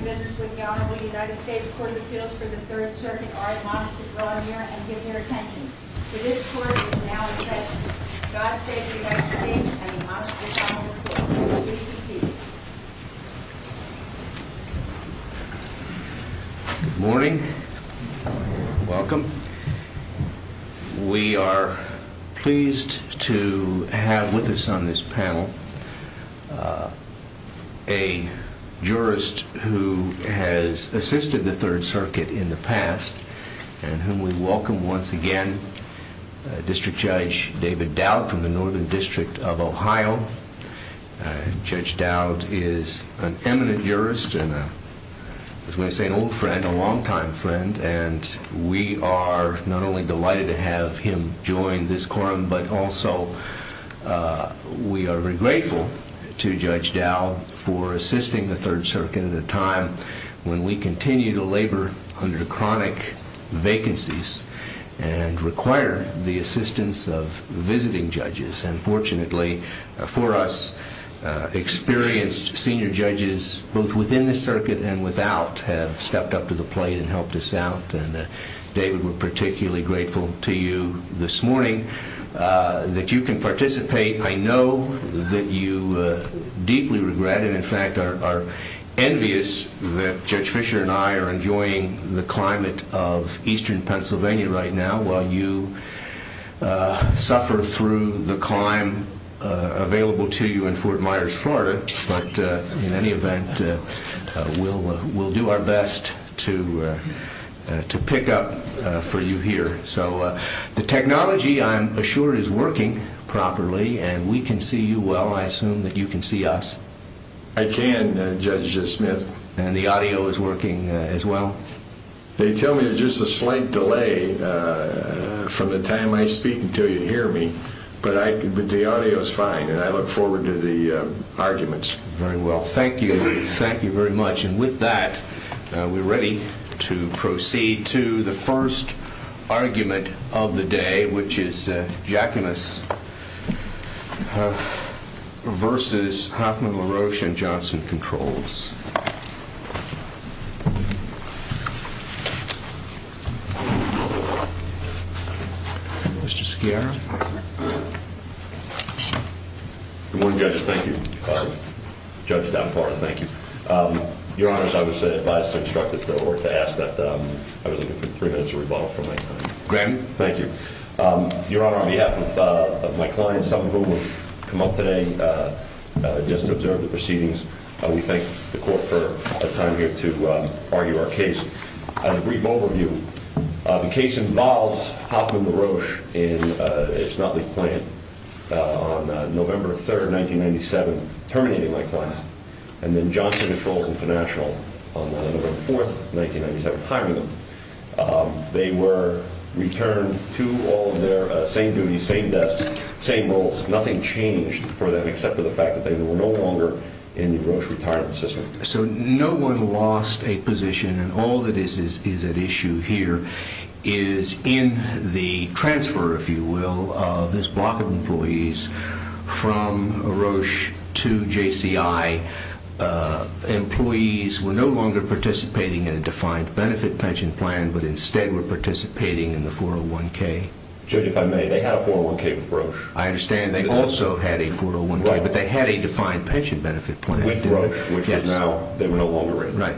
Good morning. Welcome. We are pleased to have with us on this panel a jurist who has assisted the Third Circuit in the past and whom we welcome once again, District Judge David Dowd from the Northern District of Ohio. Judge Dowd is an eminent jurist and an old friend, a longtime friend, and we are not only delighted to have him join this quorum but also we are very grateful to Judge Dowd for assisting the Third Circuit at a time when we continue to labor under chronic vacancies and require the assistance of visiting judges. And fortunately for us, experienced senior judges, both within the circuit and without, have stepped up to the plate and helped us out. And David, we're particularly grateful to you this morning that you can participate. I know that you deeply regret and in fact are envious that Judge Fischer and I are enjoying the climate of eastern Pennsylvania right now while you suffer through the climb available to you in Fort Myers, Florida. But in any event, we'll do our best to The technology, I'm assured, is working properly and we can see you well. I assume that you can see us. I can, Judge Smith. And the audio is working as well? They tell me there's just a slight delay from the time I speak until you hear me, but the audio is fine and I look forward to the arguments. Very well. Thank you. Thank you very much. And with that, we're ready to proceed to the first argument of the day, which is Jacquemus versus Hoffman, LaRoche, and Johnson controls. Mr. Skiarra. Good morning, judges. Thank you, Judge Dunbar. Thank you. Your Honor, I was advised to instruct or to ask that I was looking for three minutes of rebuttal from my client. Granted. Thank you. Your Honor, on behalf of my client, some of whom have come up today just to observe the proceedings, we thank the court for the time here to argue our case. A brief overview. The case involves Hoffman LaRoche in its Knottley plant on November 3rd, 1997, terminating my client. And then Johnson Controls International on November 4th, 1997, hiring them. They were returned to all of their same duties, same desks, same roles. Nothing changed for them except for the fact that they were no longer in the LaRoche retirement system. So no one lost a position. And all that is at issue here is in the transfer, if you will, of this block of employees from LaRoche to JCI, employees were no longer participating in a defined benefit pension plan, but instead were participating in the 401k. Judge, if I may, they had a 401k with LaRoche. I understand they also had a 401k, but they had a defined pension benefit plan. With LaRoche, which is now, they were no longer in. Right.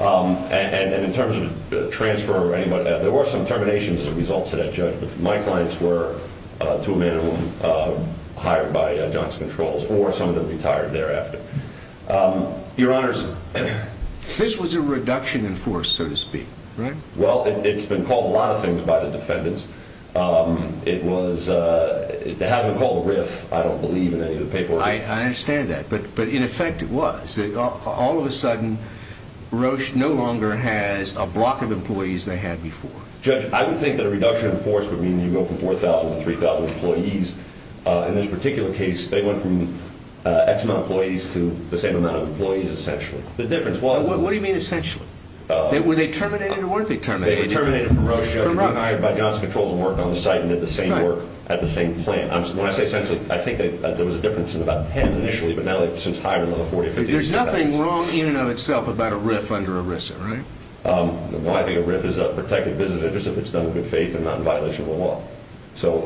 And in terms of the transfer or anybody, there were some terminations as a result to that judgment. My clients were, to a minimum, hired by Johnson Controls or some of them retired thereafter. Your Honors, this was a reduction in force, so to speak, right? Well, it's been called a lot of things by the defendants. It was, it hasn't been called a riff, I don't believe, in any of the paperwork. I understand that. But in effect, it was. All of a sudden, LaRoche no longer has a block of employees they had before. Judge, I would think that a reduction in force would mean you go from 4,000 to 3,000 employees. In this particular case, they went from X amount of employees to the same amount of employees, essentially. The difference was... What do you mean, essentially? Were they terminated or weren't they terminated? They were terminated from LaRoche, Judge, by Johnson Controls and worked on the site and did the same work at the same plant. When I say essentially, I think that there was a difference in about 10 initially, but now they've since hired another 45,000. There's nothing wrong in and of itself about a riff under ERISA, right? Well, I think a riff is a protected business interest if it's done with good faith and not in violation of the law. So,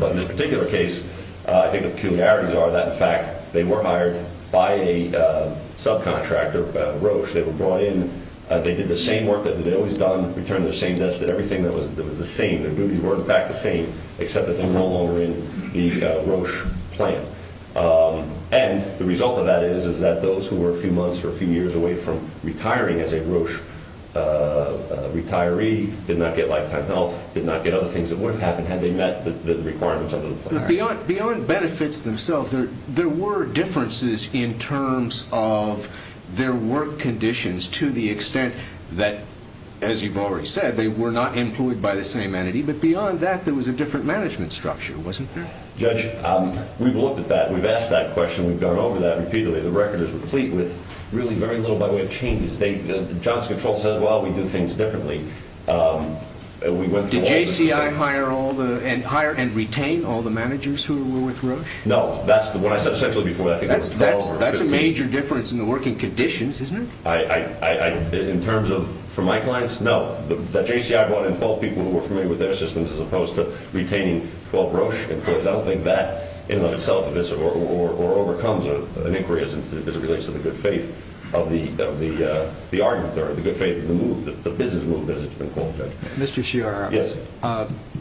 but in this particular case, I think the peculiarities are that, in fact, they were hired by a subcontractor, LaRoche. They were brought in, they did the same work that they'd always done, returned to the same desk, did everything that was the same. Their duties were, in fact, the same, except that they were no longer in the LaRoche plant. And the result of that is that those who were a few months or a few years away from retiring as a LaRoche retiree did not get lifetime health, did not get other things that would have happened had they met the requirements under the plan. Beyond benefits themselves, there were differences in terms of their work conditions to the extent that, as you've already said, they were not employed by the same entity. But beyond that, there was a different management structure, wasn't there? Judge, we've looked at that. We've asked that question. We've gone over that repeatedly. The record is complete with really very little, by the way, of changes. They, John's control says, well, we do things differently. We went through all the- Did JCI hire all the, hire and retain all the managers who were with Roche? No, that's the, what I said essentially before, I think there were 12 or 15. That's a major difference in the working conditions, isn't it? I, in terms of, for my clients, no. The JCI brought in 12 people who were familiar with their systems as opposed to retaining 12 Roche employees. I don't think that in and of itself or overcomes an inquiry as it relates to the good faith of the argument there, the good faith of the move, the business move, as it's been called, Judge. Mr. Sciarra. Yes.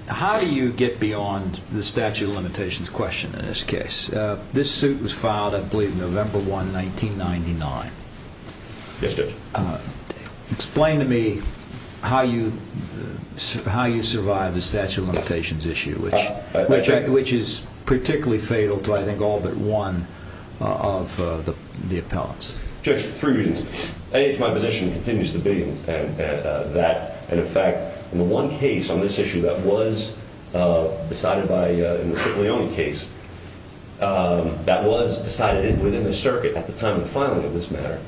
How do you get beyond the statute of limitations question in this case? This suit was filed, I believe, November 1, 1999. Yes, Judge. Explain to me how you survived the statute of limitations issue, which is particularly fatal to, I think, all but one of the appellants. Judge, three reasons. A, it's my position and continues to be that, in effect, in the one case on this issue that was decided by, in the Cipollone case, that was decided within the circuit at the time of the filing of this matter,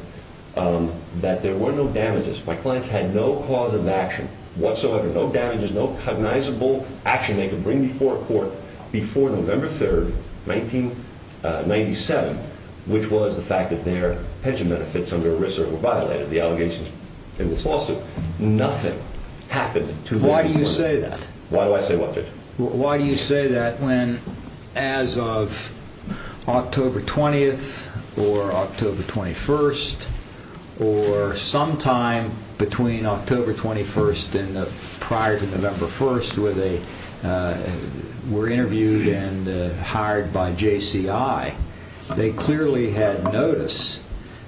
that there were no damages. My clients had no cause of action whatsoever, no damages, no cognizable action they could bring before court before November 3, 1997, which was the fact that their pension benefits under ERISA were violated, the allegations in this lawsuit. Nothing happened to them. Why do you say that? Why do I say what, Judge? Why do you say that when, as of October 20th or October 21st, or sometime between October 21st and prior to November 1st, where they were interviewed and hired by JCI, they clearly had notice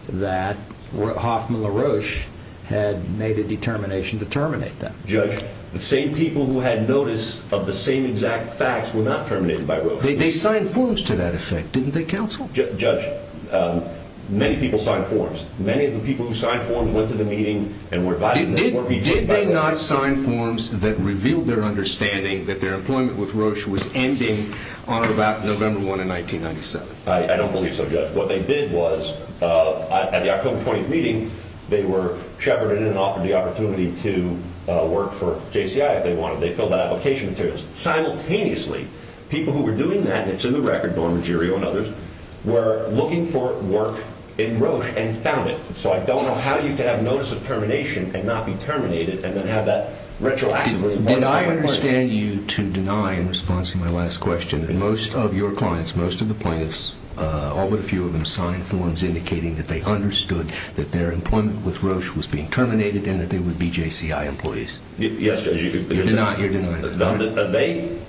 that Hoffman LaRoche had made a determination to terminate them. Judge, the same people who had notice of the same exact facts were not terminated by LaRoche. They signed forms to that effect, didn't they, counsel? Judge, many people signed forms. Many of the people who signed forms went to the meeting and were advised that they weren't being terminated by LaRoche. Did they not sign forms that revealed their understanding that their employment with LaRoche was ending on about November 1, 1997? I don't believe so, Judge. What they did was, at the October 20th meeting, they were shepherded and offered the opportunity to work for JCI if they wanted. They filled out application materials. Simultaneously, people who were doing that, and it's in the record, Norma Girio and others, were looking for work in LaRoche and found it. So I don't know how you could have notice of termination and not be terminated and then have that retroactively. Did I understand you to deny in response to my last question that most of your clients, most of the plaintiffs, all but a few of them signed forms indicating that they understood that their employment with LaRoche was being terminated and that they would be JCI employees? Yes, Judge. You're denying? They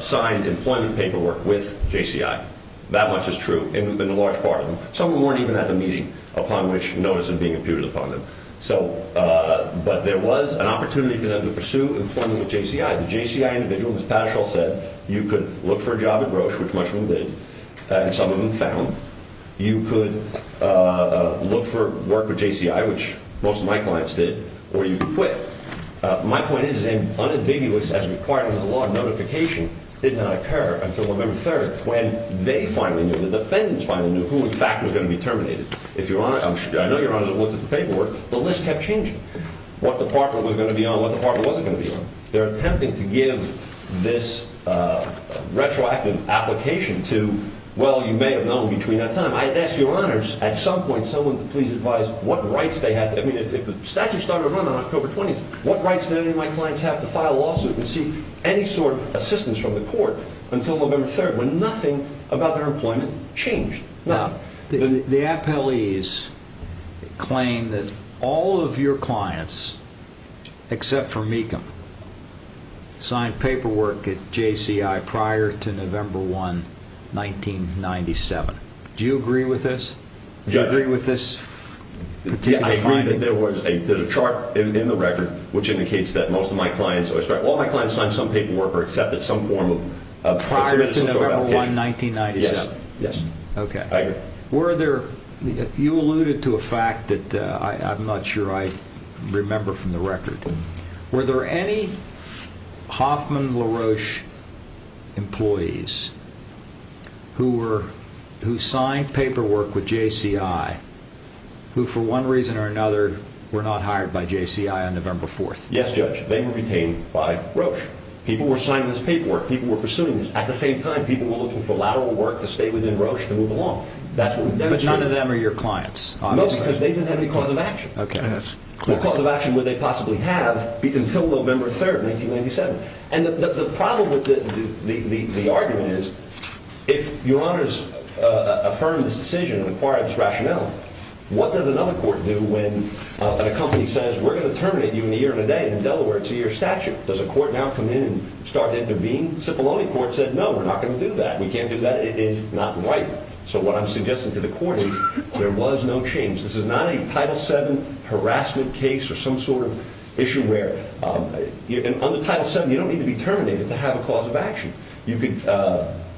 signed employment paperwork with JCI. That much is true in a large part of them. Some of them weren't even at the meeting, upon which notice of being imputed upon them. But there was an opportunity for them to pursue employment with JCI. The JCI individual, as Patashall said, you could look for a job at Roche, which much of them did, and some of them found. You could look for work with JCI, which most of my clients did, or you could quit. My point is that an unambiguous, as required in the law, notification did not occur until November 3rd when they finally knew, the defendants finally knew, who in fact was going to be terminated. I know Your Honor looked at the paperwork. The list kept changing, what department was going to be on, what department wasn't going to be on. They're attempting to give this retroactive application to, well, you may have known between that time. I ask Your Honors, at some point, someone to please advise what rights they had. I mean, if the statute started to run on October 20th, what rights did any of my clients have to file a lawsuit and seek any sort of assistance from the court until November 3rd, when nothing about their employment changed? The appellees claim that all of your clients, except for Mecham, signed paperwork at JCI prior to November 1, 1997. Do you agree with this? Do you agree with this particular finding? I agree that there's a chart in the record, which indicates that most of my clients, all my clients signed some paperwork or accepted some form of... Prior to November 1, 1997? Yes. Okay. I agree. You alluded to a fact that I'm not sure I remember from the record. Were there any Hoffman LaRoche employees who signed paperwork with JCI who, for one reason or another, were not hired by JCI on November 4th? Yes, Judge. They were retained by LaRoche. People were signing this paperwork. People were pursuing this. At the same time, people were looking for lateral work to stay within LaRoche to move along. But none of them are your clients? No, because they didn't have any cause of action. Okay. What cause of action would they possibly have until November 3rd, 1997? And the problem with the argument is, if your honors affirm this decision and require this rationale, what does another court do when a company says, we're going to terminate you in a year and a day, and in Delaware it's a year statute? Does a court now come in and start to intervene? Cipollone Court said, no, we're not going to do that. We can't do that. It is not right. So what I'm suggesting to the court is, there was no change. This is not a Title VII harassment case or some sort of issue where, on the Title VII, you don't need to be terminated to have a cause of action. You could,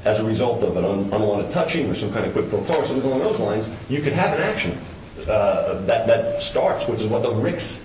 as a result of an unwanted touching or some kind of quid pro quo or something along those lines, you could have an action that starts, which is what the Ricks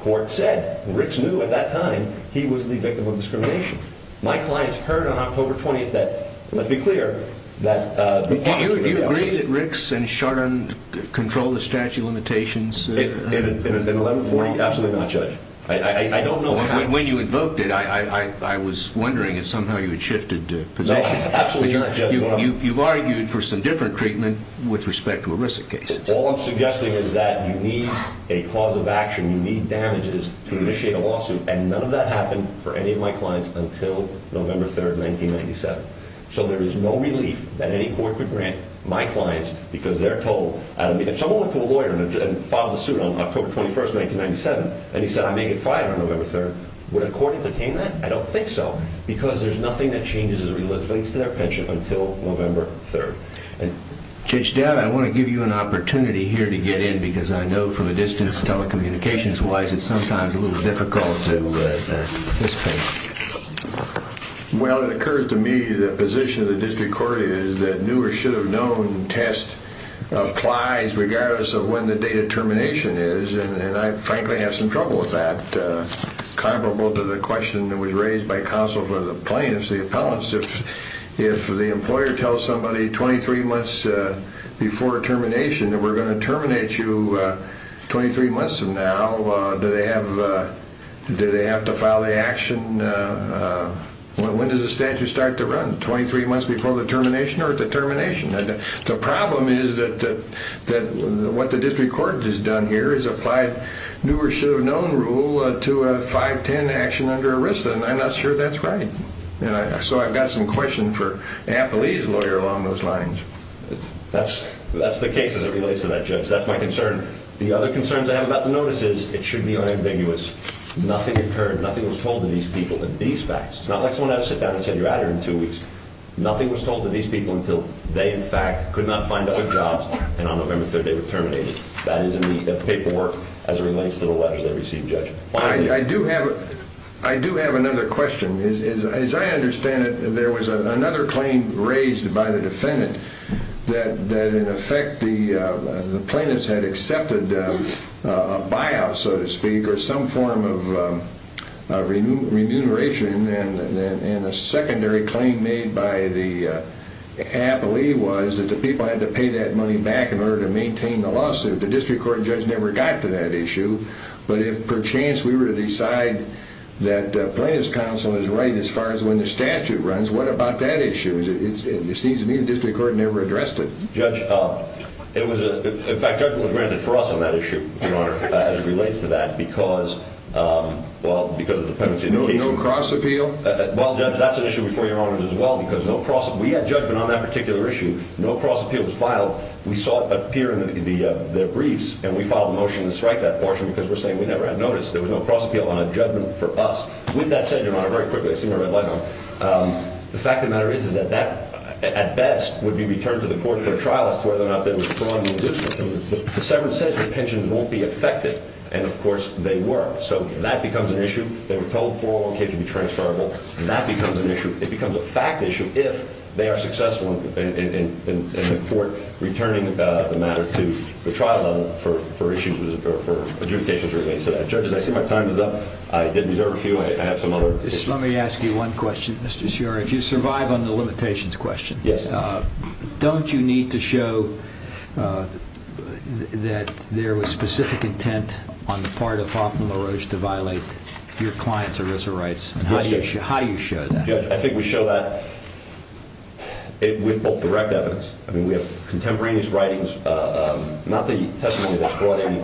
Court said. Ricks knew at that time he was the victim of discrimination. My clients heard on October 20th that, let's be clear, that the cops were going to be out. Do you agree that Ricks and Chardon controlled the statute of limitations? In 1140, absolutely not, Judge. I don't know how. When you invoked it, I was wondering if somehow you had shifted positions. No, absolutely not, Judge. You've argued for some different treatment with respect to a risk case. All I'm suggesting is that you need a cause of action, you need damages to initiate a lawsuit, and none of that happened for any of my clients until November 3rd, 1997. So there is no relief that any court could grant my clients because they're told. If someone went to a lawyer and filed a suit on October 21st, 1997, and he said, I may get fired on November 3rd, would a court entertain that? I don't think so because there's nothing that changes as it relates to their pension until November 3rd. Judge Dowd, I want to give you an opportunity here to get in because I know from a distance, telecommunications-wise, it's sometimes a little difficult to participate. Well, it occurs to me that the position of the district court is that new or should have known test applies regardless of when the date of termination is, and I frankly have some trouble with that. Comparable to the question that was raised by counsel for the plaintiffs, the appellants, if the employer tells somebody 23 months before termination that we're going to terminate you 23 months from now, do they have to file the action? When does the statute start to run, 23 months before the termination or at the termination? The problem is that what the district court has done here is applied new or should have known rule to a 5-10 action under arrest, and I'm not sure that's right. So I've got some questions for an appellee's lawyer along those lines. That's the case as it relates to that, Judge. That's my concern. The other concerns I have about the notice is it should be unambiguous. Nothing occurred, nothing was told to these people in these facts. It's not like someone had to sit down and say, you're out of here in two weeks. Nothing was told to these people until they, in fact, could not find other jobs and on November 3rd they were terminated. That is in the paperwork as it relates to the letter they received, Judge. I do have another question. As I understand it, there was another claim raised by the defendant that, in effect, the plaintiffs had accepted a buyout, so to speak, or some form of remuneration, and a secondary claim made by the appellee was that the people had to pay that money back in order to maintain the lawsuit. The district court judge never got to that issue. But if, perchance, we were to decide that plaintiff's counsel is right as far as when the statute runs, what about that issue? It seems to me the district court never addressed it. Judge, in fact, judgment was granted for us on that issue, Your Honor, as it relates to that because of the penalty indication. No cross-appeal? Well, Judge, that's an issue before Your Honors as well because we had judgment on that particular issue. No cross-appeal was filed. We saw it appear in their briefs, and we filed a motion to strike that portion because we're saying we never had notice. There was no cross-appeal on a judgment for us. With that said, Your Honor, very quickly, I see my red light on. The fact of the matter is that that, at best, would be returned to the court for a trial as to whether or not that was fraud in the district. But the settlement says the pensions won't be affected, and, of course, they were. So that becomes an issue. They were told 401Ks would be transferable. That becomes an issue. It becomes a fact issue if they are successful in the court returning the matter to the trial level for adjudications related to that. Judges, I see my time is up. I did reserve a few. I have some other issues. Let me ask you one question, Mr. Sciarra. If you survive on the limitations question, don't you need to show that there was specific intent on the part of Hoffman LaRouche to violate your client's arrears of rights? How do you show that? Judge, I think we show that with both direct evidence. I mean, we have contemporaneous writings, not the testimony that's brought in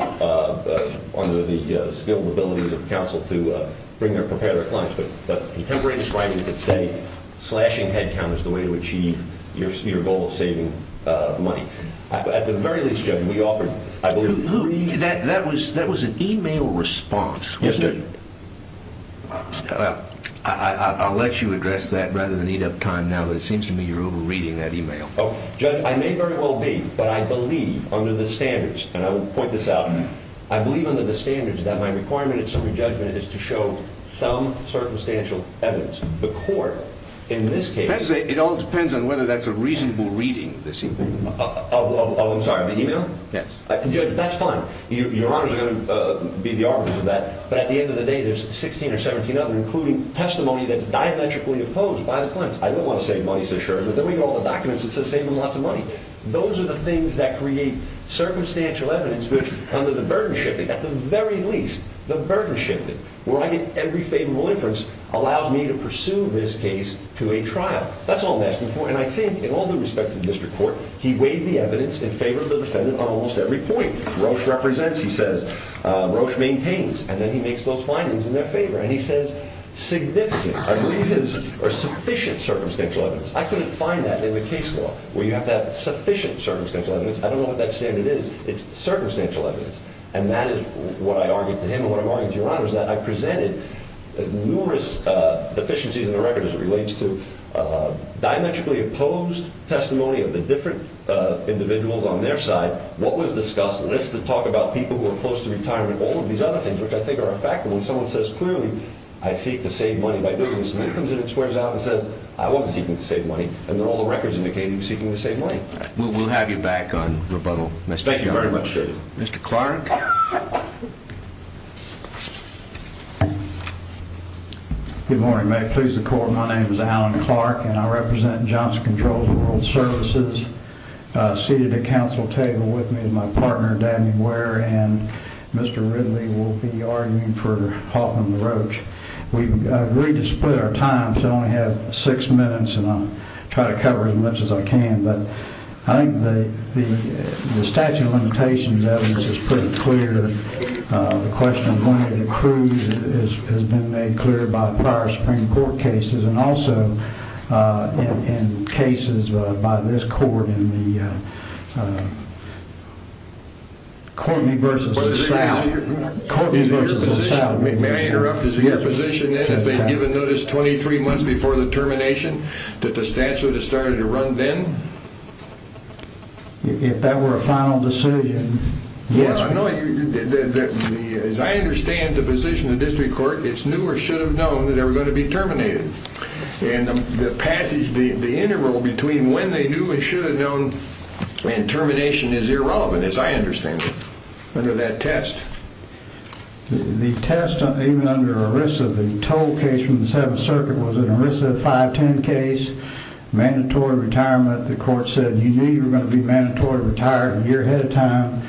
under the skill and abilities of the counsel to prepare their clients, but contemporaneous writings that say slashing headcount is the way to achieve your goal of saving money. At the very least, Judge, we offered, I believe, three… That was an e-mail response. Yes, Judge. Well, I'll let you address that rather than eat up time now, but it seems to me you're over-reading that e-mail. Oh, Judge, I may very well be, but I believe under the standards, and I will point this out, I believe under the standards that my requirement in summary judgment is to show some circumstantial evidence. The court, in this case… It all depends on whether that's a reasonable reading, this e-mail. Oh, I'm sorry, of the e-mail? Yes. Judge, that's fine. Your honors are going to be the arbiters of that, but at the end of the day, there's 16 or 17 other, including testimony that's diametrically opposed by the clients. I don't want to save money, so sure, but then we get all the documents that say save them lots of money. Those are the things that create circumstantial evidence which, under the burden shifting, at the very least, the burden shifting, where I get every favorable inference, allows me to pursue this case to a trial. That's all I'm asking for, and I think in all due respect to the district court, he weighed the evidence in favor of the defendant on almost every point. Roche represents, he says. Roche maintains. And then he makes those findings in their favor, and he says, significant, I believe, or sufficient circumstantial evidence. I couldn't find that in the case law, where you have to have sufficient circumstantial evidence. I don't know what that standard is. It's circumstantial evidence. And that is what I argued to him and what I'm arguing to your honors, that I presented numerous deficiencies in the record as it relates to diametrically opposed testimony of the different individuals on their side, what was discussed, lists that talk about people who are close to retirement, all of these other things, which I think are a factor. When someone says, clearly, I seek to save money by doing this, then it comes in and squares out and says, I wasn't seeking to save money, and then all the records indicate he was seeking to save money. We'll have you back on rebuttal, Mr. Sheehan. Thank you very much, David. Mr. Clark. Good morning. May it please the court, my name is Alan Clark, and I represent Johnson Controls and World Services. Seated at the council table with me is my partner, Danny Ware, and Mr. Ridley will be arguing for Hoffman and the Roach. We've agreed to split our time, so I only have six minutes, and I'll try to cover as much as I can. But I think the statute of limitations evidence is pretty clear. The question of money accrued has been made clear by prior Supreme Court cases, and also in cases by this court in the Courtney v. South. May I interrupt? Is it your position then, if they had given notice 23 months before the termination, that the statute had started to run then? If that were a final decision, yes. As I understand the position of the district court, it's new or should have known that they were going to be terminated. And the passage, the interval between when they knew and should have known and termination is irrelevant, as I understand it, under that test. The test, even under ERISA, the toll case from the Seventh Circuit, was an ERISA 510 case, mandatory retirement. The court said you knew you were going to be mandatory retired a year ahead of time.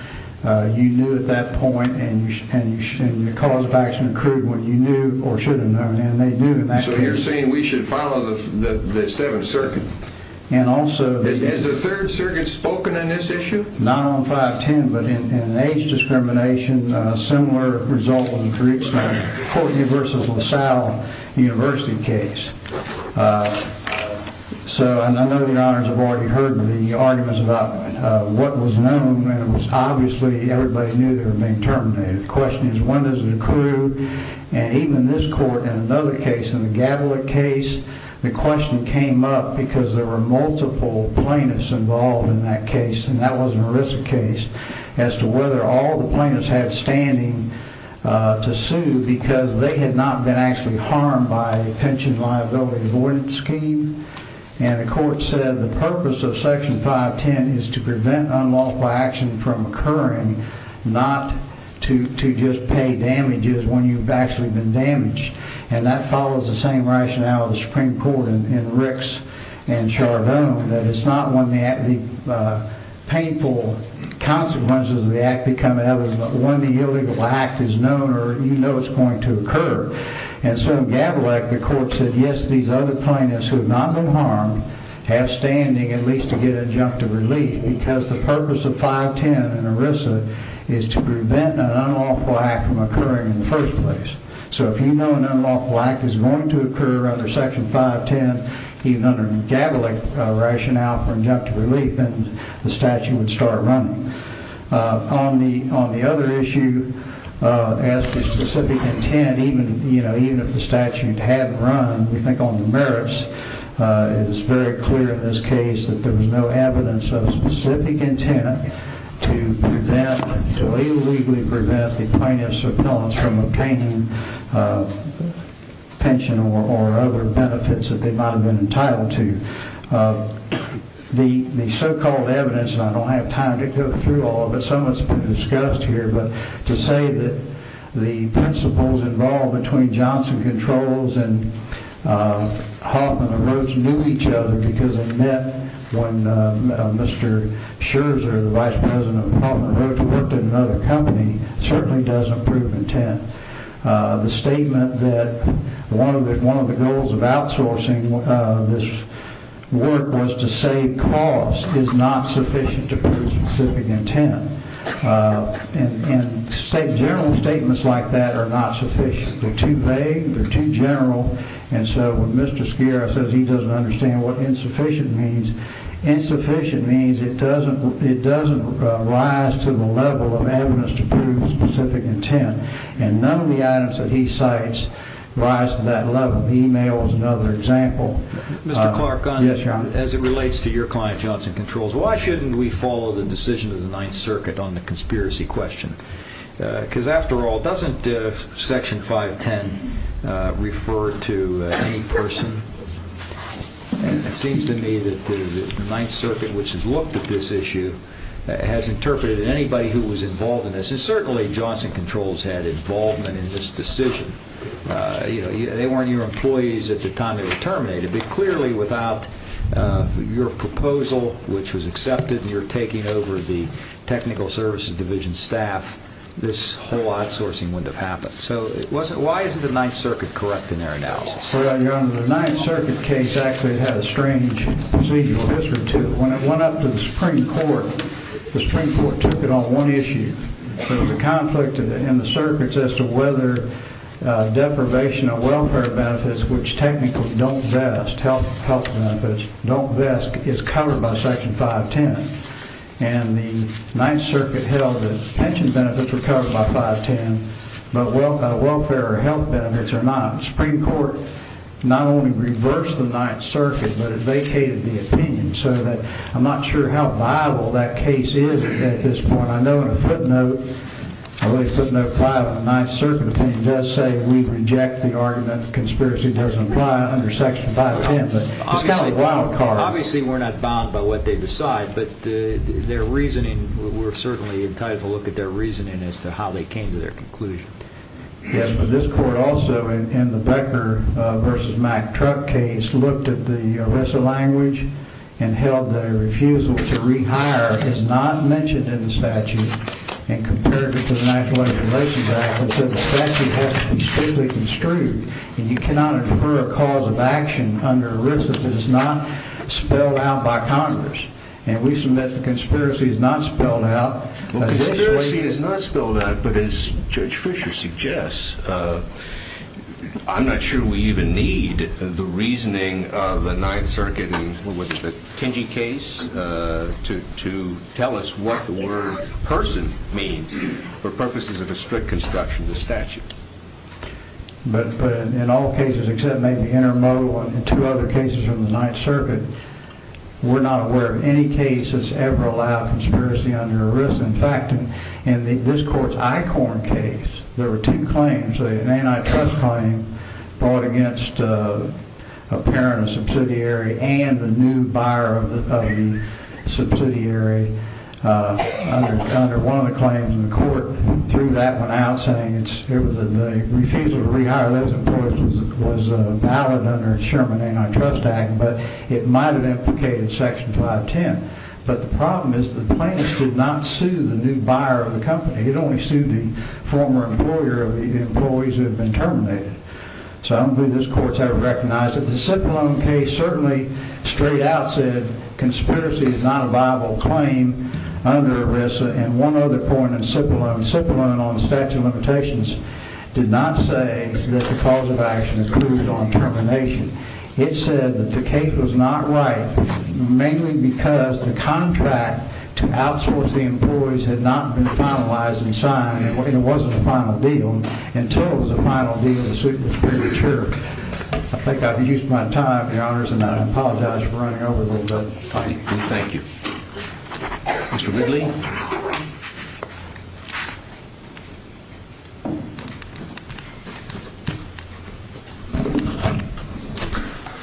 You knew at that point, and your cause of action accrued when you knew or should have known, and they do in that case. So you're saying we should follow the Seventh Circuit? Has the Third Circuit spoken in this issue? Not on 510, but in an age discrimination, similar result in the Courtney v. LaSalle University case. I know the honors have already heard the arguments about what was known, and obviously everybody knew they were being terminated. The question is when does it accrue? And even this court, in another case, in the Gatlin case, the question came up because there were multiple plaintiffs involved in that case, and that was an ERISA case, as to whether all the plaintiffs had standing to sue because they had not been actually harmed by the pension liability avoidance scheme. And the court said the purpose of Section 510 is to prevent unlawful action from occurring, not to just pay damages when you've actually been damaged. And that follows the same rationale of the Supreme Court in Ricks and Charbonne, that it's not when the painful consequences of the act become evident, but when the illegal act is known or you know it's going to occur. And so in Gabelak, the court said, yes, these other plaintiffs who have not been harmed have standing at least to get adjunctive relief because the purpose of 510 in ERISA is to prevent an unlawful act from occurring in the first place. So if you know an unlawful act is going to occur under Section 510, even under the Gabelak rationale for adjunctive relief, then the statute would start running. On the other issue, as to specific intent, even if the statute hadn't run, we think on the merits, it's very clear in this case that there was no evidence of specific intent to prevent, to illegally prevent the plaintiff's repellents from obtaining pension or other benefits that they might have been entitled to. The so-called evidence, and I don't have time to go through all of it, some of it's been discussed here, but to say that the principles involved between Johnson Controls and Hoffman & Rhodes knew each other because they met when Mr. Scherzer, the vice president of Hoffman & Rhodes, who worked at another company, certainly doesn't prove intent. The statement that one of the goals of outsourcing this work was to save costs is not sufficient to prove specific intent. General statements like that are not sufficient. They're too vague. They're too general. And so when Mr. Scherzer says he doesn't understand what insufficient means, insufficient means it doesn't rise to the level of evidence to prove specific intent. And none of the items that he cites rise to that level. Email is another example. Mr. Clark, as it relates to your client, Johnson Controls, so why shouldn't we follow the decision of the Ninth Circuit on the conspiracy question? Because, after all, doesn't Section 510 refer to any person? It seems to me that the Ninth Circuit, which has looked at this issue, has interpreted anybody who was involved in this, and certainly Johnson Controls had involvement in this decision. They weren't your employees at the time it was terminated, but clearly without your proposal, which was accepted, and your taking over the Technical Services Division staff, this whole outsourcing wouldn't have happened. So why isn't the Ninth Circuit correct in their analysis? Well, Your Honor, the Ninth Circuit case actually had a strange procedural history, too. When it went up to the Supreme Court, the Supreme Court took it on one issue. There was a conflict in the circuits as to whether deprivation of welfare benefits, which technically don't vest health benefits, don't vest, is covered by Section 510. And the Ninth Circuit held that pension benefits were covered by 510, but welfare or health benefits are not. The Supreme Court not only reversed the Ninth Circuit, but it vacated the opinion, so that I'm not sure how viable that case is at this point. I know in a footnote, at least Footnote 5 of the Ninth Circuit opinion, it does say we reject the argument that conspiracy doesn't apply under Section 510. It's kind of a wild card. Obviously, we're not bound by what they decide, but their reasoning, we're certainly entitled to look at their reasoning as to how they came to their conclusion. Yes, but this Court also, in the Becker v. Mack truck case, looked at the ERISA language and held that a refusal to rehire is not mentioned in the statute and compared it to the National Information Act, which says the statute has to be strictly construed and you cannot infer a cause of action under ERISA if it is not spelled out by Congress. And we submit the conspiracy is not spelled out. Conspiracy is not spelled out, but as Judge Fisher suggests, I'm not sure we even need the reasoning of the Ninth Circuit, what was it, the Tenge case, to tell us what the word person means for purposes of a strict construction of the statute. But in all cases except maybe Intermo and two other cases from the Ninth Circuit, we're not aware of any cases ever allow conspiracy under ERISA. In fact, in this Court's EICORN case, there were two claims, an antitrust claim brought against a parent, a subsidiary, and the new buyer of the subsidiary under one of the claims. And the Court threw that one out saying the refusal to rehire those employees was valid under the Sherman Antitrust Act, but it might have implicated Section 510. But the problem is the plaintiffs did not sue the new buyer of the company. It only sued the former employer of the employees who had been terminated. So I don't believe this Court's ever recognized it. The Cipollone case certainly straight out said conspiracy is not a viable claim under ERISA. And one other point on Cipollone, Cipollone on statute of limitations did not say that the cause of action included on termination. It said that the case was not right mainly because the contract to outsource the employees had not been finalized and signed and it wasn't a final deal until it was a final deal and the suit was premature. I think I've used my time, Your Honors, and I apologize for running over a little bit. Thank you. Mr. Ridley?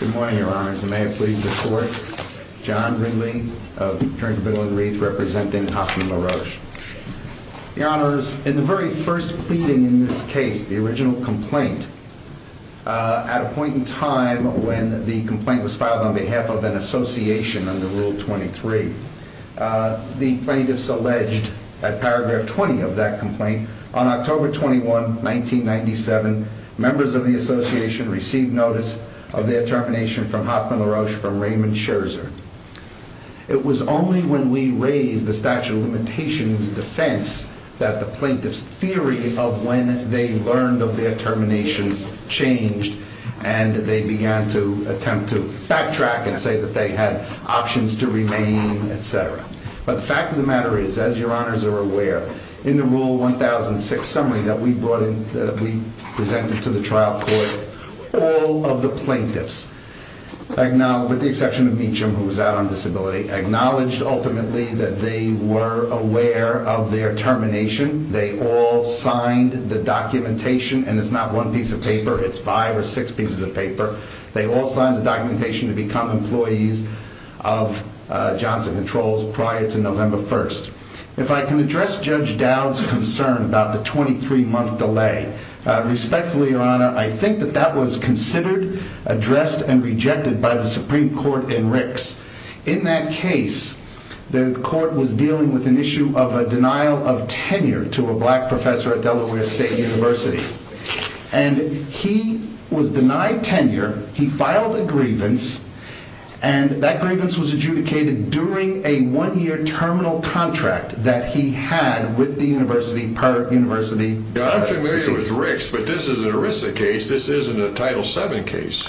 Good morning, Your Honors, and may it please the Court. John Ridley of Turner Bill and Wreath representing Hoffman LaRoche. Your Honors, in the very first pleading in this case, the original complaint, at a point in time when the complaint was filed on behalf of an association under Rule 23, the plaintiffs alleged at paragraph 20 of that complaint, on October 21, 1997, members of the association received notice of their termination from Hoffman LaRoche from Raymond Scherzer. It was only when we raised the statute of limitations defense that the plaintiffs' theory of when they learned of their termination changed and they began to attempt to backtrack and say that they had options to remain, etc. But the fact of the matter is, as Your Honors are aware, in the Rule 1006 summary that we presented to the trial court, all of the plaintiffs, with the exception of Meacham who was out on disability, acknowledged ultimately that they were aware of their termination. They all signed the documentation, and it's not one piece of paper. It's five or six pieces of paper. They all signed the documentation to become employees of Johnson Controls prior to November 1st. If I can address Judge Dowd's concern about the 23-month delay, respectfully, Your Honor, I think that that was considered, addressed, and rejected by the Supreme Court in Ricks. In that case, the court was dealing with an issue of a denial of tenure to a black professor at Delaware State University. And he was denied tenure, he filed a grievance, and that grievance was adjudicated during a one-year terminal contract that he had with the university per university. I'm familiar with Ricks, but this is an ERISA case. This isn't a Title VII case.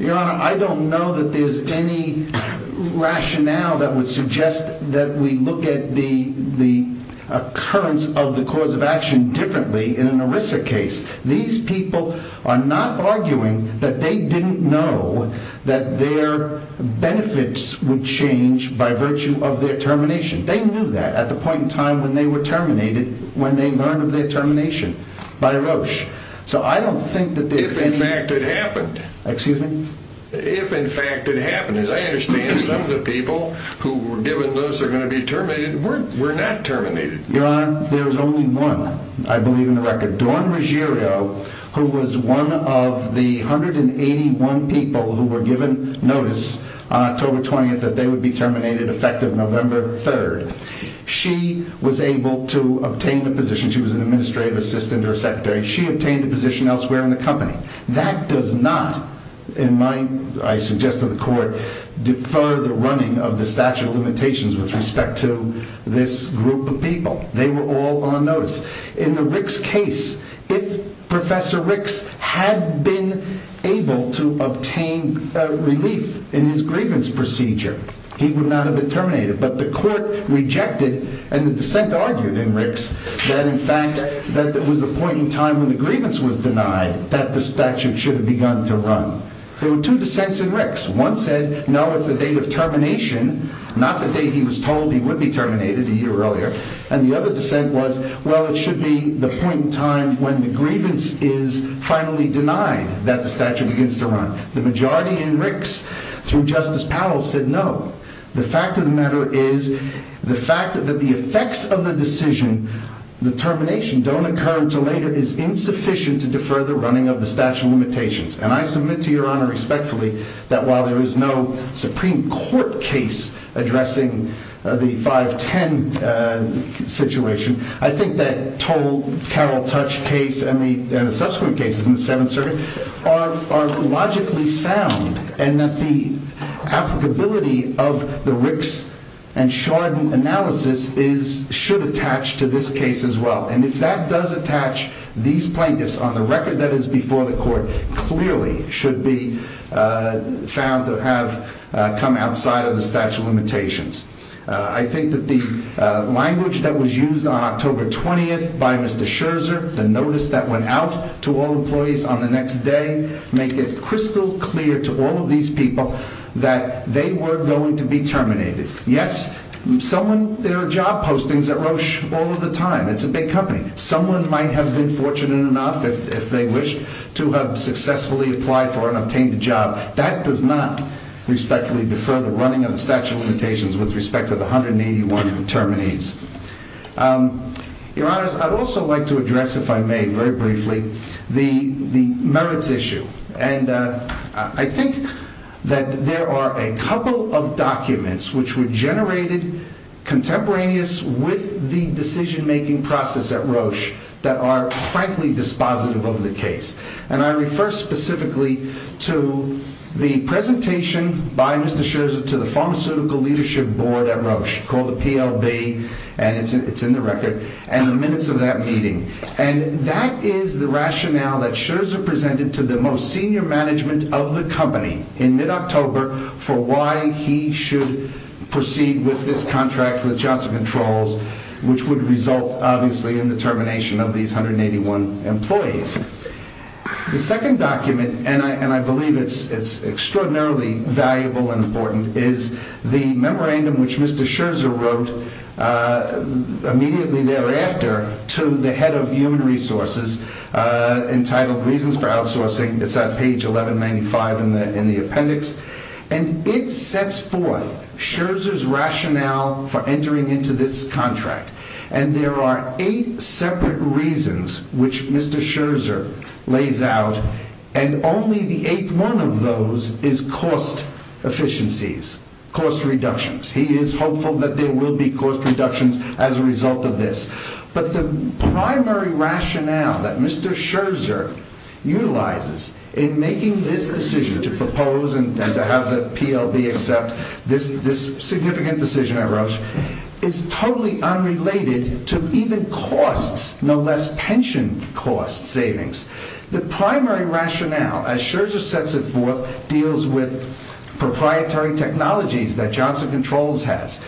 Your Honor, I don't know that there's any rationale that would suggest that we look at the occurrence of the cause of action differently in an ERISA case. These people are not arguing that they didn't know that their benefits would change by virtue of their termination. They knew that at the point in time when they were terminated, when they learned of their termination by Roche. So I don't think that there's any... If, in fact, it happened. Excuse me? If, in fact, it happened. As I understand, some of the people who were given notice are going to be terminated. We're not terminated. Your Honor, there's only one, I believe, in the record. Dawn Ruggiero, who was one of the 181 people who were given notice on October 20th that they would be terminated, effective November 3rd. She was able to obtain the position. She was an administrative assistant or secretary. She obtained a position elsewhere in the company. That does not, in my... I suggest to the Court, defer the running of the statute of limitations with respect to this group of people. They were all on notice. In the Ricks case, if Professor Ricks had been able to obtain relief in his grievance procedure, he would not have been terminated. But the Court rejected, and the dissent argued in Ricks, that, in fact, that there was a point in time when the grievance was denied that the statute should have begun to run. There were two dissents in Ricks. One said, no, it's the date of termination, not the date he was told he would be terminated, a year earlier. And the other dissent was, well, it should be the point in time when the grievance is finally denied that the statute begins to run. The majority in Ricks, through Justice Powell, said no. The fact of the matter is, the fact that the effects of the decision, the termination, don't occur until later, is insufficient to defer the running of the statute of limitations. And I submit to Your Honor, respectfully, that while there is no Supreme Court case addressing the 5-10 situation, I think that total Carroll Touch case, and the subsequent cases in the Seventh Circuit, are logically sound, and that the applicability of the Ricks and Chardon analysis should attach to this case as well. And if that does attach, these plaintiffs, on the record that is before the Court, clearly should be found to have come outside of the statute of limitations. I think that the language that was used on October 20th by Mr. Scherzer, the notice that went out to all employees on the next day, make it crystal clear to all of these people that they were going to be terminated. Yes, there are job postings at Roche all of the time. It's a big company. Someone might have been fortunate enough, if they wished, to have successfully applied for and obtained a job. That does not, respectfully, defer the running of the statute of limitations with respect to the 181 terminates. Your Honor, I'd also like to address, if I may, very briefly, the merits issue. And I think that there are a couple of documents which were generated contemporaneously with the decision-making process at Roche that are, frankly, dispositive of the case. And I refer specifically to the presentation by Mr. Scherzer to the Pharmaceutical Leadership Board at Roche, called the PLB, and it's in the record, and the minutes of that meeting. And that is the rationale that Scherzer presented to the most senior management of the company in mid-October for why he should proceed with this contract with Johnson Controls, which would result, obviously, in the termination of these 181 employees. The second document, and I believe it's extraordinarily valuable and important, is the memorandum which Mr. Scherzer wrote immediately thereafter to the head of human resources, entitled, Reasons for Outsourcing. It's on page 1195 in the appendix. And it sets forth Scherzer's rationale for entering into this contract. And there are eight separate reasons which Mr. Scherzer lays out, and only the eighth one of those is cost efficiencies, cost reductions. He is hopeful that there will be cost reductions as a result of this. But the primary rationale that Mr. Scherzer utilizes in making this decision to propose and to have the PLB accept this significant decision at Roche is totally unrelated to even costs, no less pension cost savings. The primary rationale, as Scherzer sets it forth, deals with proprietary technologies that Johnson Controls has.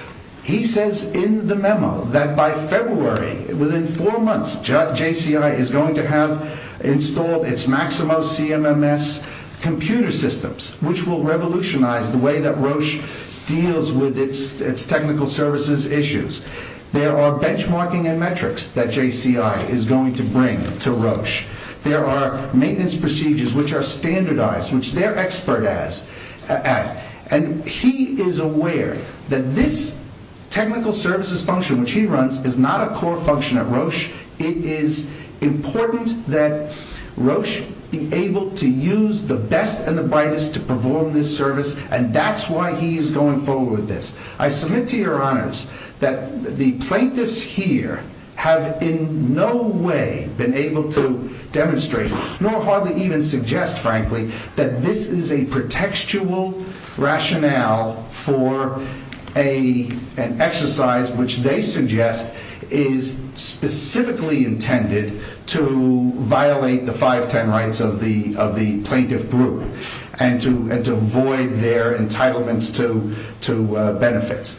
He says in the memo that by February, within four months, JCI is going to have installed its Maximo CMMS computer systems, which will revolutionize the way that Roche deals with its technical services issues. There are maintenance procedures which are standardized, which they're expert at. And he is aware that this technical services function, which he runs, is not a core function at Roche. It is important that Roche be able to use the best and the brightest to perform this service, and that's why he is going forward with this. I submit to your honors that the plaintiffs here have in no way been able to demonstrate, nor hardly even suggest, frankly, that this is a pretextual rationale for an exercise which they suggest is specifically intended to violate the 510 rights of the plaintiff group and to void their entitlements to benefits.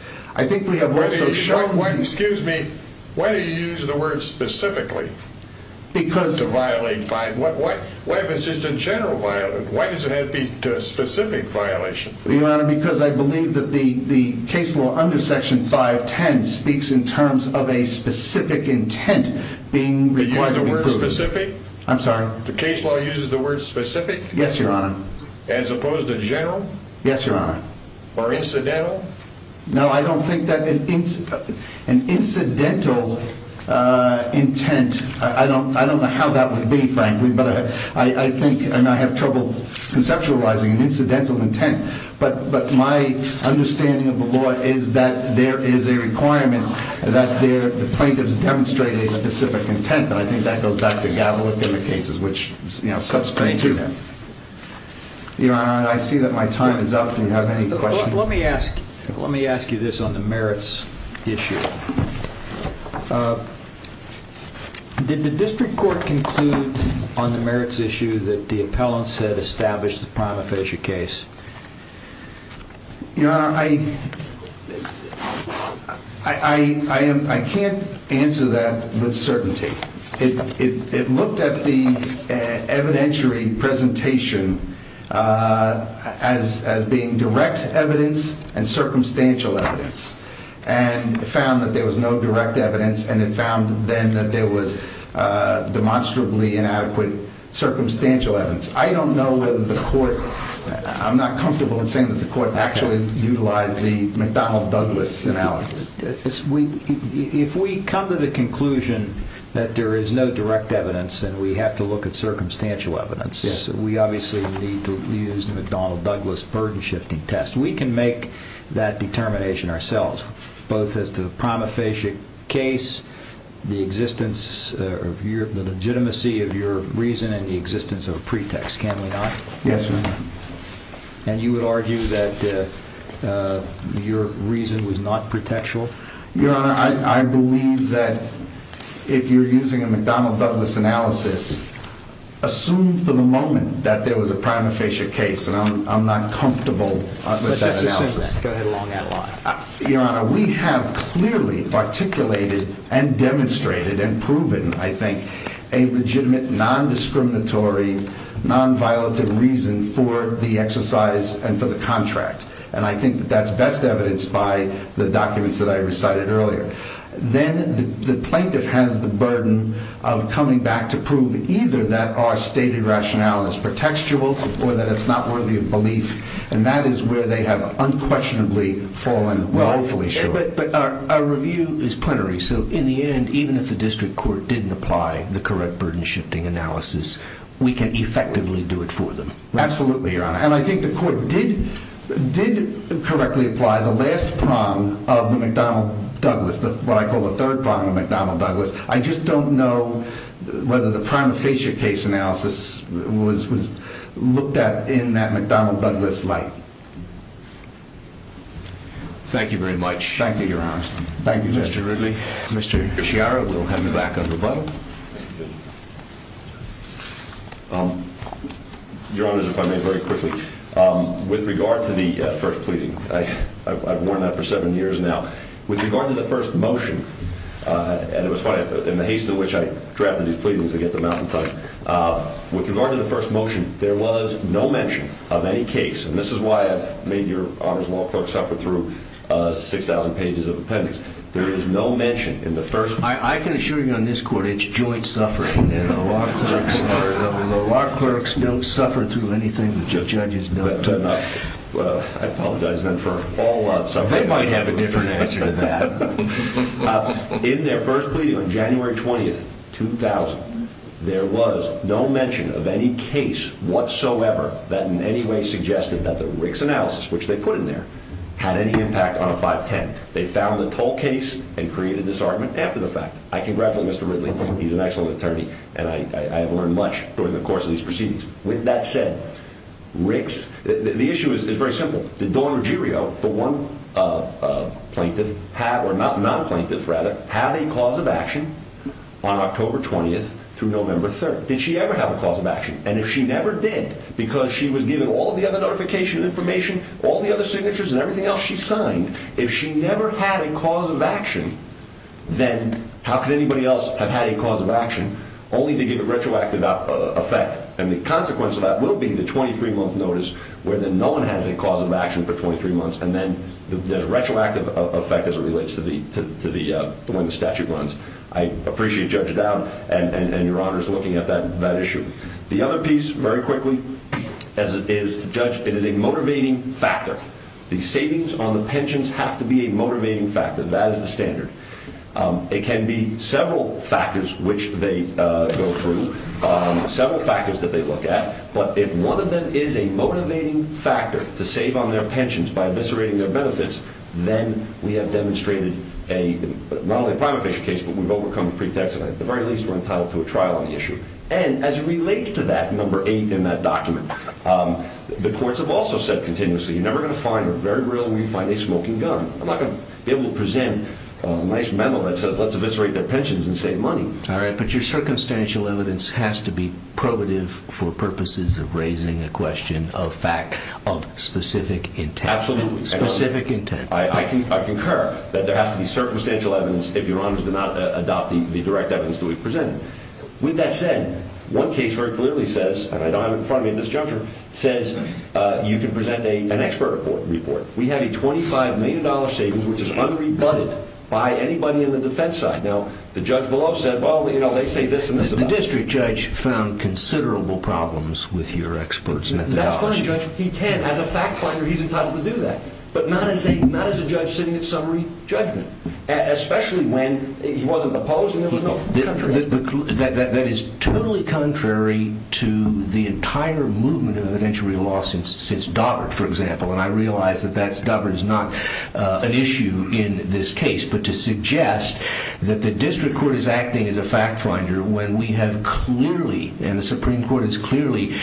Why do you use the word specifically to violate 510? Why does it have to be a specific violation? Because I believe that the case law under Section 510 speaks in terms of a specific intent being required to be proven. Do you use the word specific? I'm sorry? The case law uses the word specific? Yes, your honor. As opposed to general? Yes, your honor. Or incidental? No, I don't think that an incidental intent, I don't know how that would be, frankly, but I think, and I have trouble conceptualizing, an incidental intent. But my understanding of the law is that there is a requirement that the plaintiffs demonstrate a specific intent, and I think that goes back to Gavilic in the cases which, you know, subsequent to that. Thank you. Your honor, I see that my time is up. Do you have any questions? Let me ask you this on the merits issue. Did the district court conclude on the merits issue that the appellants had established the prima facie case? Your honor, I can't answer that with certainty. It looked at the evidentiary presentation as being direct evidence and circumstantial evidence, and found that there was no direct evidence, and it found then that there was demonstrably inadequate circumstantial evidence. I don't know whether the court, I'm not comfortable in saying that the court actually utilized the McDonnell Douglas analysis. If we come to the conclusion that there is no direct evidence and we have to look at circumstantial evidence, we obviously need to use the McDonnell Douglas burden-shifting test. We can make that determination ourselves, both as to the prima facie case, the legitimacy of your reason, and the existence of a pretext, can we not? Yes, your honor. And you would argue that your reason was not pretextual? Your honor, I believe that if you're using a McDonnell Douglas analysis, assume for the moment that there was a prima facie case, and I'm not comfortable with that analysis. Let's just assume that. Go ahead along that line. Your honor, we have clearly articulated and demonstrated and proven, I think, a legitimate, non-discriminatory, non-violative reason for the exercise and for the contract, and I think that that's best evidenced by the documents that I recited earlier. Then the plaintiff has the burden of coming back to prove either that our stated rationale is pretextual or that it's not worthy of belief, and that is where they have unquestionably fallen woefully short. But our review is plenary, so in the end, even if the district court didn't apply the correct burden-shifting analysis, we can effectively do it for them. Absolutely, your honor, and I think the court did correctly apply the last prong of the McDonnell Douglas, what I call the third prong of McDonnell Douglas. I just don't know whether the prima facie case analysis was looked at in that McDonnell Douglas light. Thank you very much. Thank you, your honor. Thank you, Judge Ridley. Mr. Sciarra will hand it back over to Butler. Your honors, if I may very quickly. With regard to the first pleading, I've worn that for seven years now. With regard to the first motion, and it was funny, in the haste in which I drafted these pleadings to get them out in time, with regard to the first motion, there was no mention of any case, and this is why I've made your honors law clerk suffer through 6,000 pages of appendix. There is no mention in the first motion. I can assure you on this court, it's joint suffering. The law clerks don't suffer through anything. The judges don't. I apologize then for all suffering. They might have a different answer to that. In their first pleading on January 20th, 2000, there was no mention of any case whatsoever that in any way suggested that the Ricks analysis, which they put in there, had any impact on a 510. They found the toll case and created this argument after the fact. I congratulate Mr. Ridley. He's an excellent attorney, and I have learned much during the course of these proceedings. With that said, the issue is very simple. Did Dawn Ruggiero, the one plaintiff, or non-plaintiff rather, have a cause of action on October 20th through November 3rd? Did she ever have a cause of action? And if she never did, because she was given all the other notification and information, all the other signatures and everything else she signed, if she never had a cause of action, then how could anybody else have had a cause of action only to give a retroactive effect? And the consequence of that will be the 23-month notice where then no one has a cause of action for 23 months, and then there's retroactive effect as it relates to when the statute runs. I appreciate Judge Dowd and Your Honors looking at that issue. The other piece, very quickly, is, Judge, it is a motivating factor. The savings on the pensions have to be a motivating factor. That is the standard. It can be several factors which they go through, several factors that they look at, but if one of them is a motivating factor to save on their pensions by eviscerating their benefits, then we have demonstrated not only a prime official case, but we've overcome a pretext, and at the very least we're entitled to a trial on the issue. And as it relates to that, number eight in that document, the courts have also said continuously, you're never going to find, or very rarely will you find, a smoking gun. I'm not going to be able to present a nice memo that says, let's eviscerate their pensions and save money. All right, but your circumstantial evidence has to be probative for purposes of raising a question of fact, of specific intent. Absolutely. Specific intent. I concur that there has to be circumstantial evidence if Your Honors do not adopt the direct evidence that we've presented. With that said, one case very clearly says, I know I'm in front of you at this juncture, says you can present an expert report. We have a $25 million savings, which is unrebutted by anybody in the defense side. Now, the judge below said, well, they say this and this about it. The district judge found considerable problems with your expert's methodology. That's fine, Judge. He can. As a fact finder, he's entitled to do that. But not as a judge sitting at summary judgment, especially when he wasn't opposed and there was no controversy. That is totally contrary to the entire movement of evidentiary law since Daubert, for example. And I realize that Daubert is not an issue in this case. But to suggest that the district court is acting as a fact finder when we have clearly, and the Supreme Court has clearly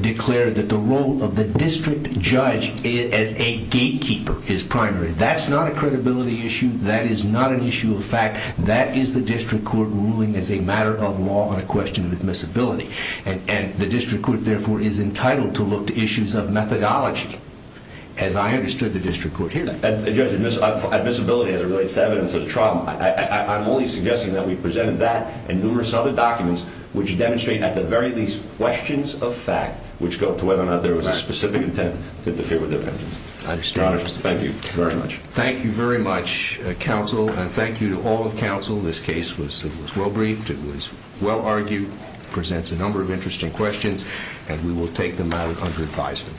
declared that the role of the district judge as a gatekeeper is primary. That's not a credibility issue. That is not an issue of fact. That is the district court ruling as a matter of law on a question of admissibility. And the district court, therefore, is entitled to look to issues of methodology, as I understood the district court hearing. Judge, admissibility as it relates to evidence of trauma. I'm only suggesting that we presented that and numerous other documents which demonstrate at the very least questions of fact which go to whether or not there was a specific intent to interfere with evidence. I understand. Thank you very much. Thank you very much, counsel. And thank you to all of counsel. This case was well-briefed. It was well-argued. It presents a number of interesting questions, and we will take them out under advisement.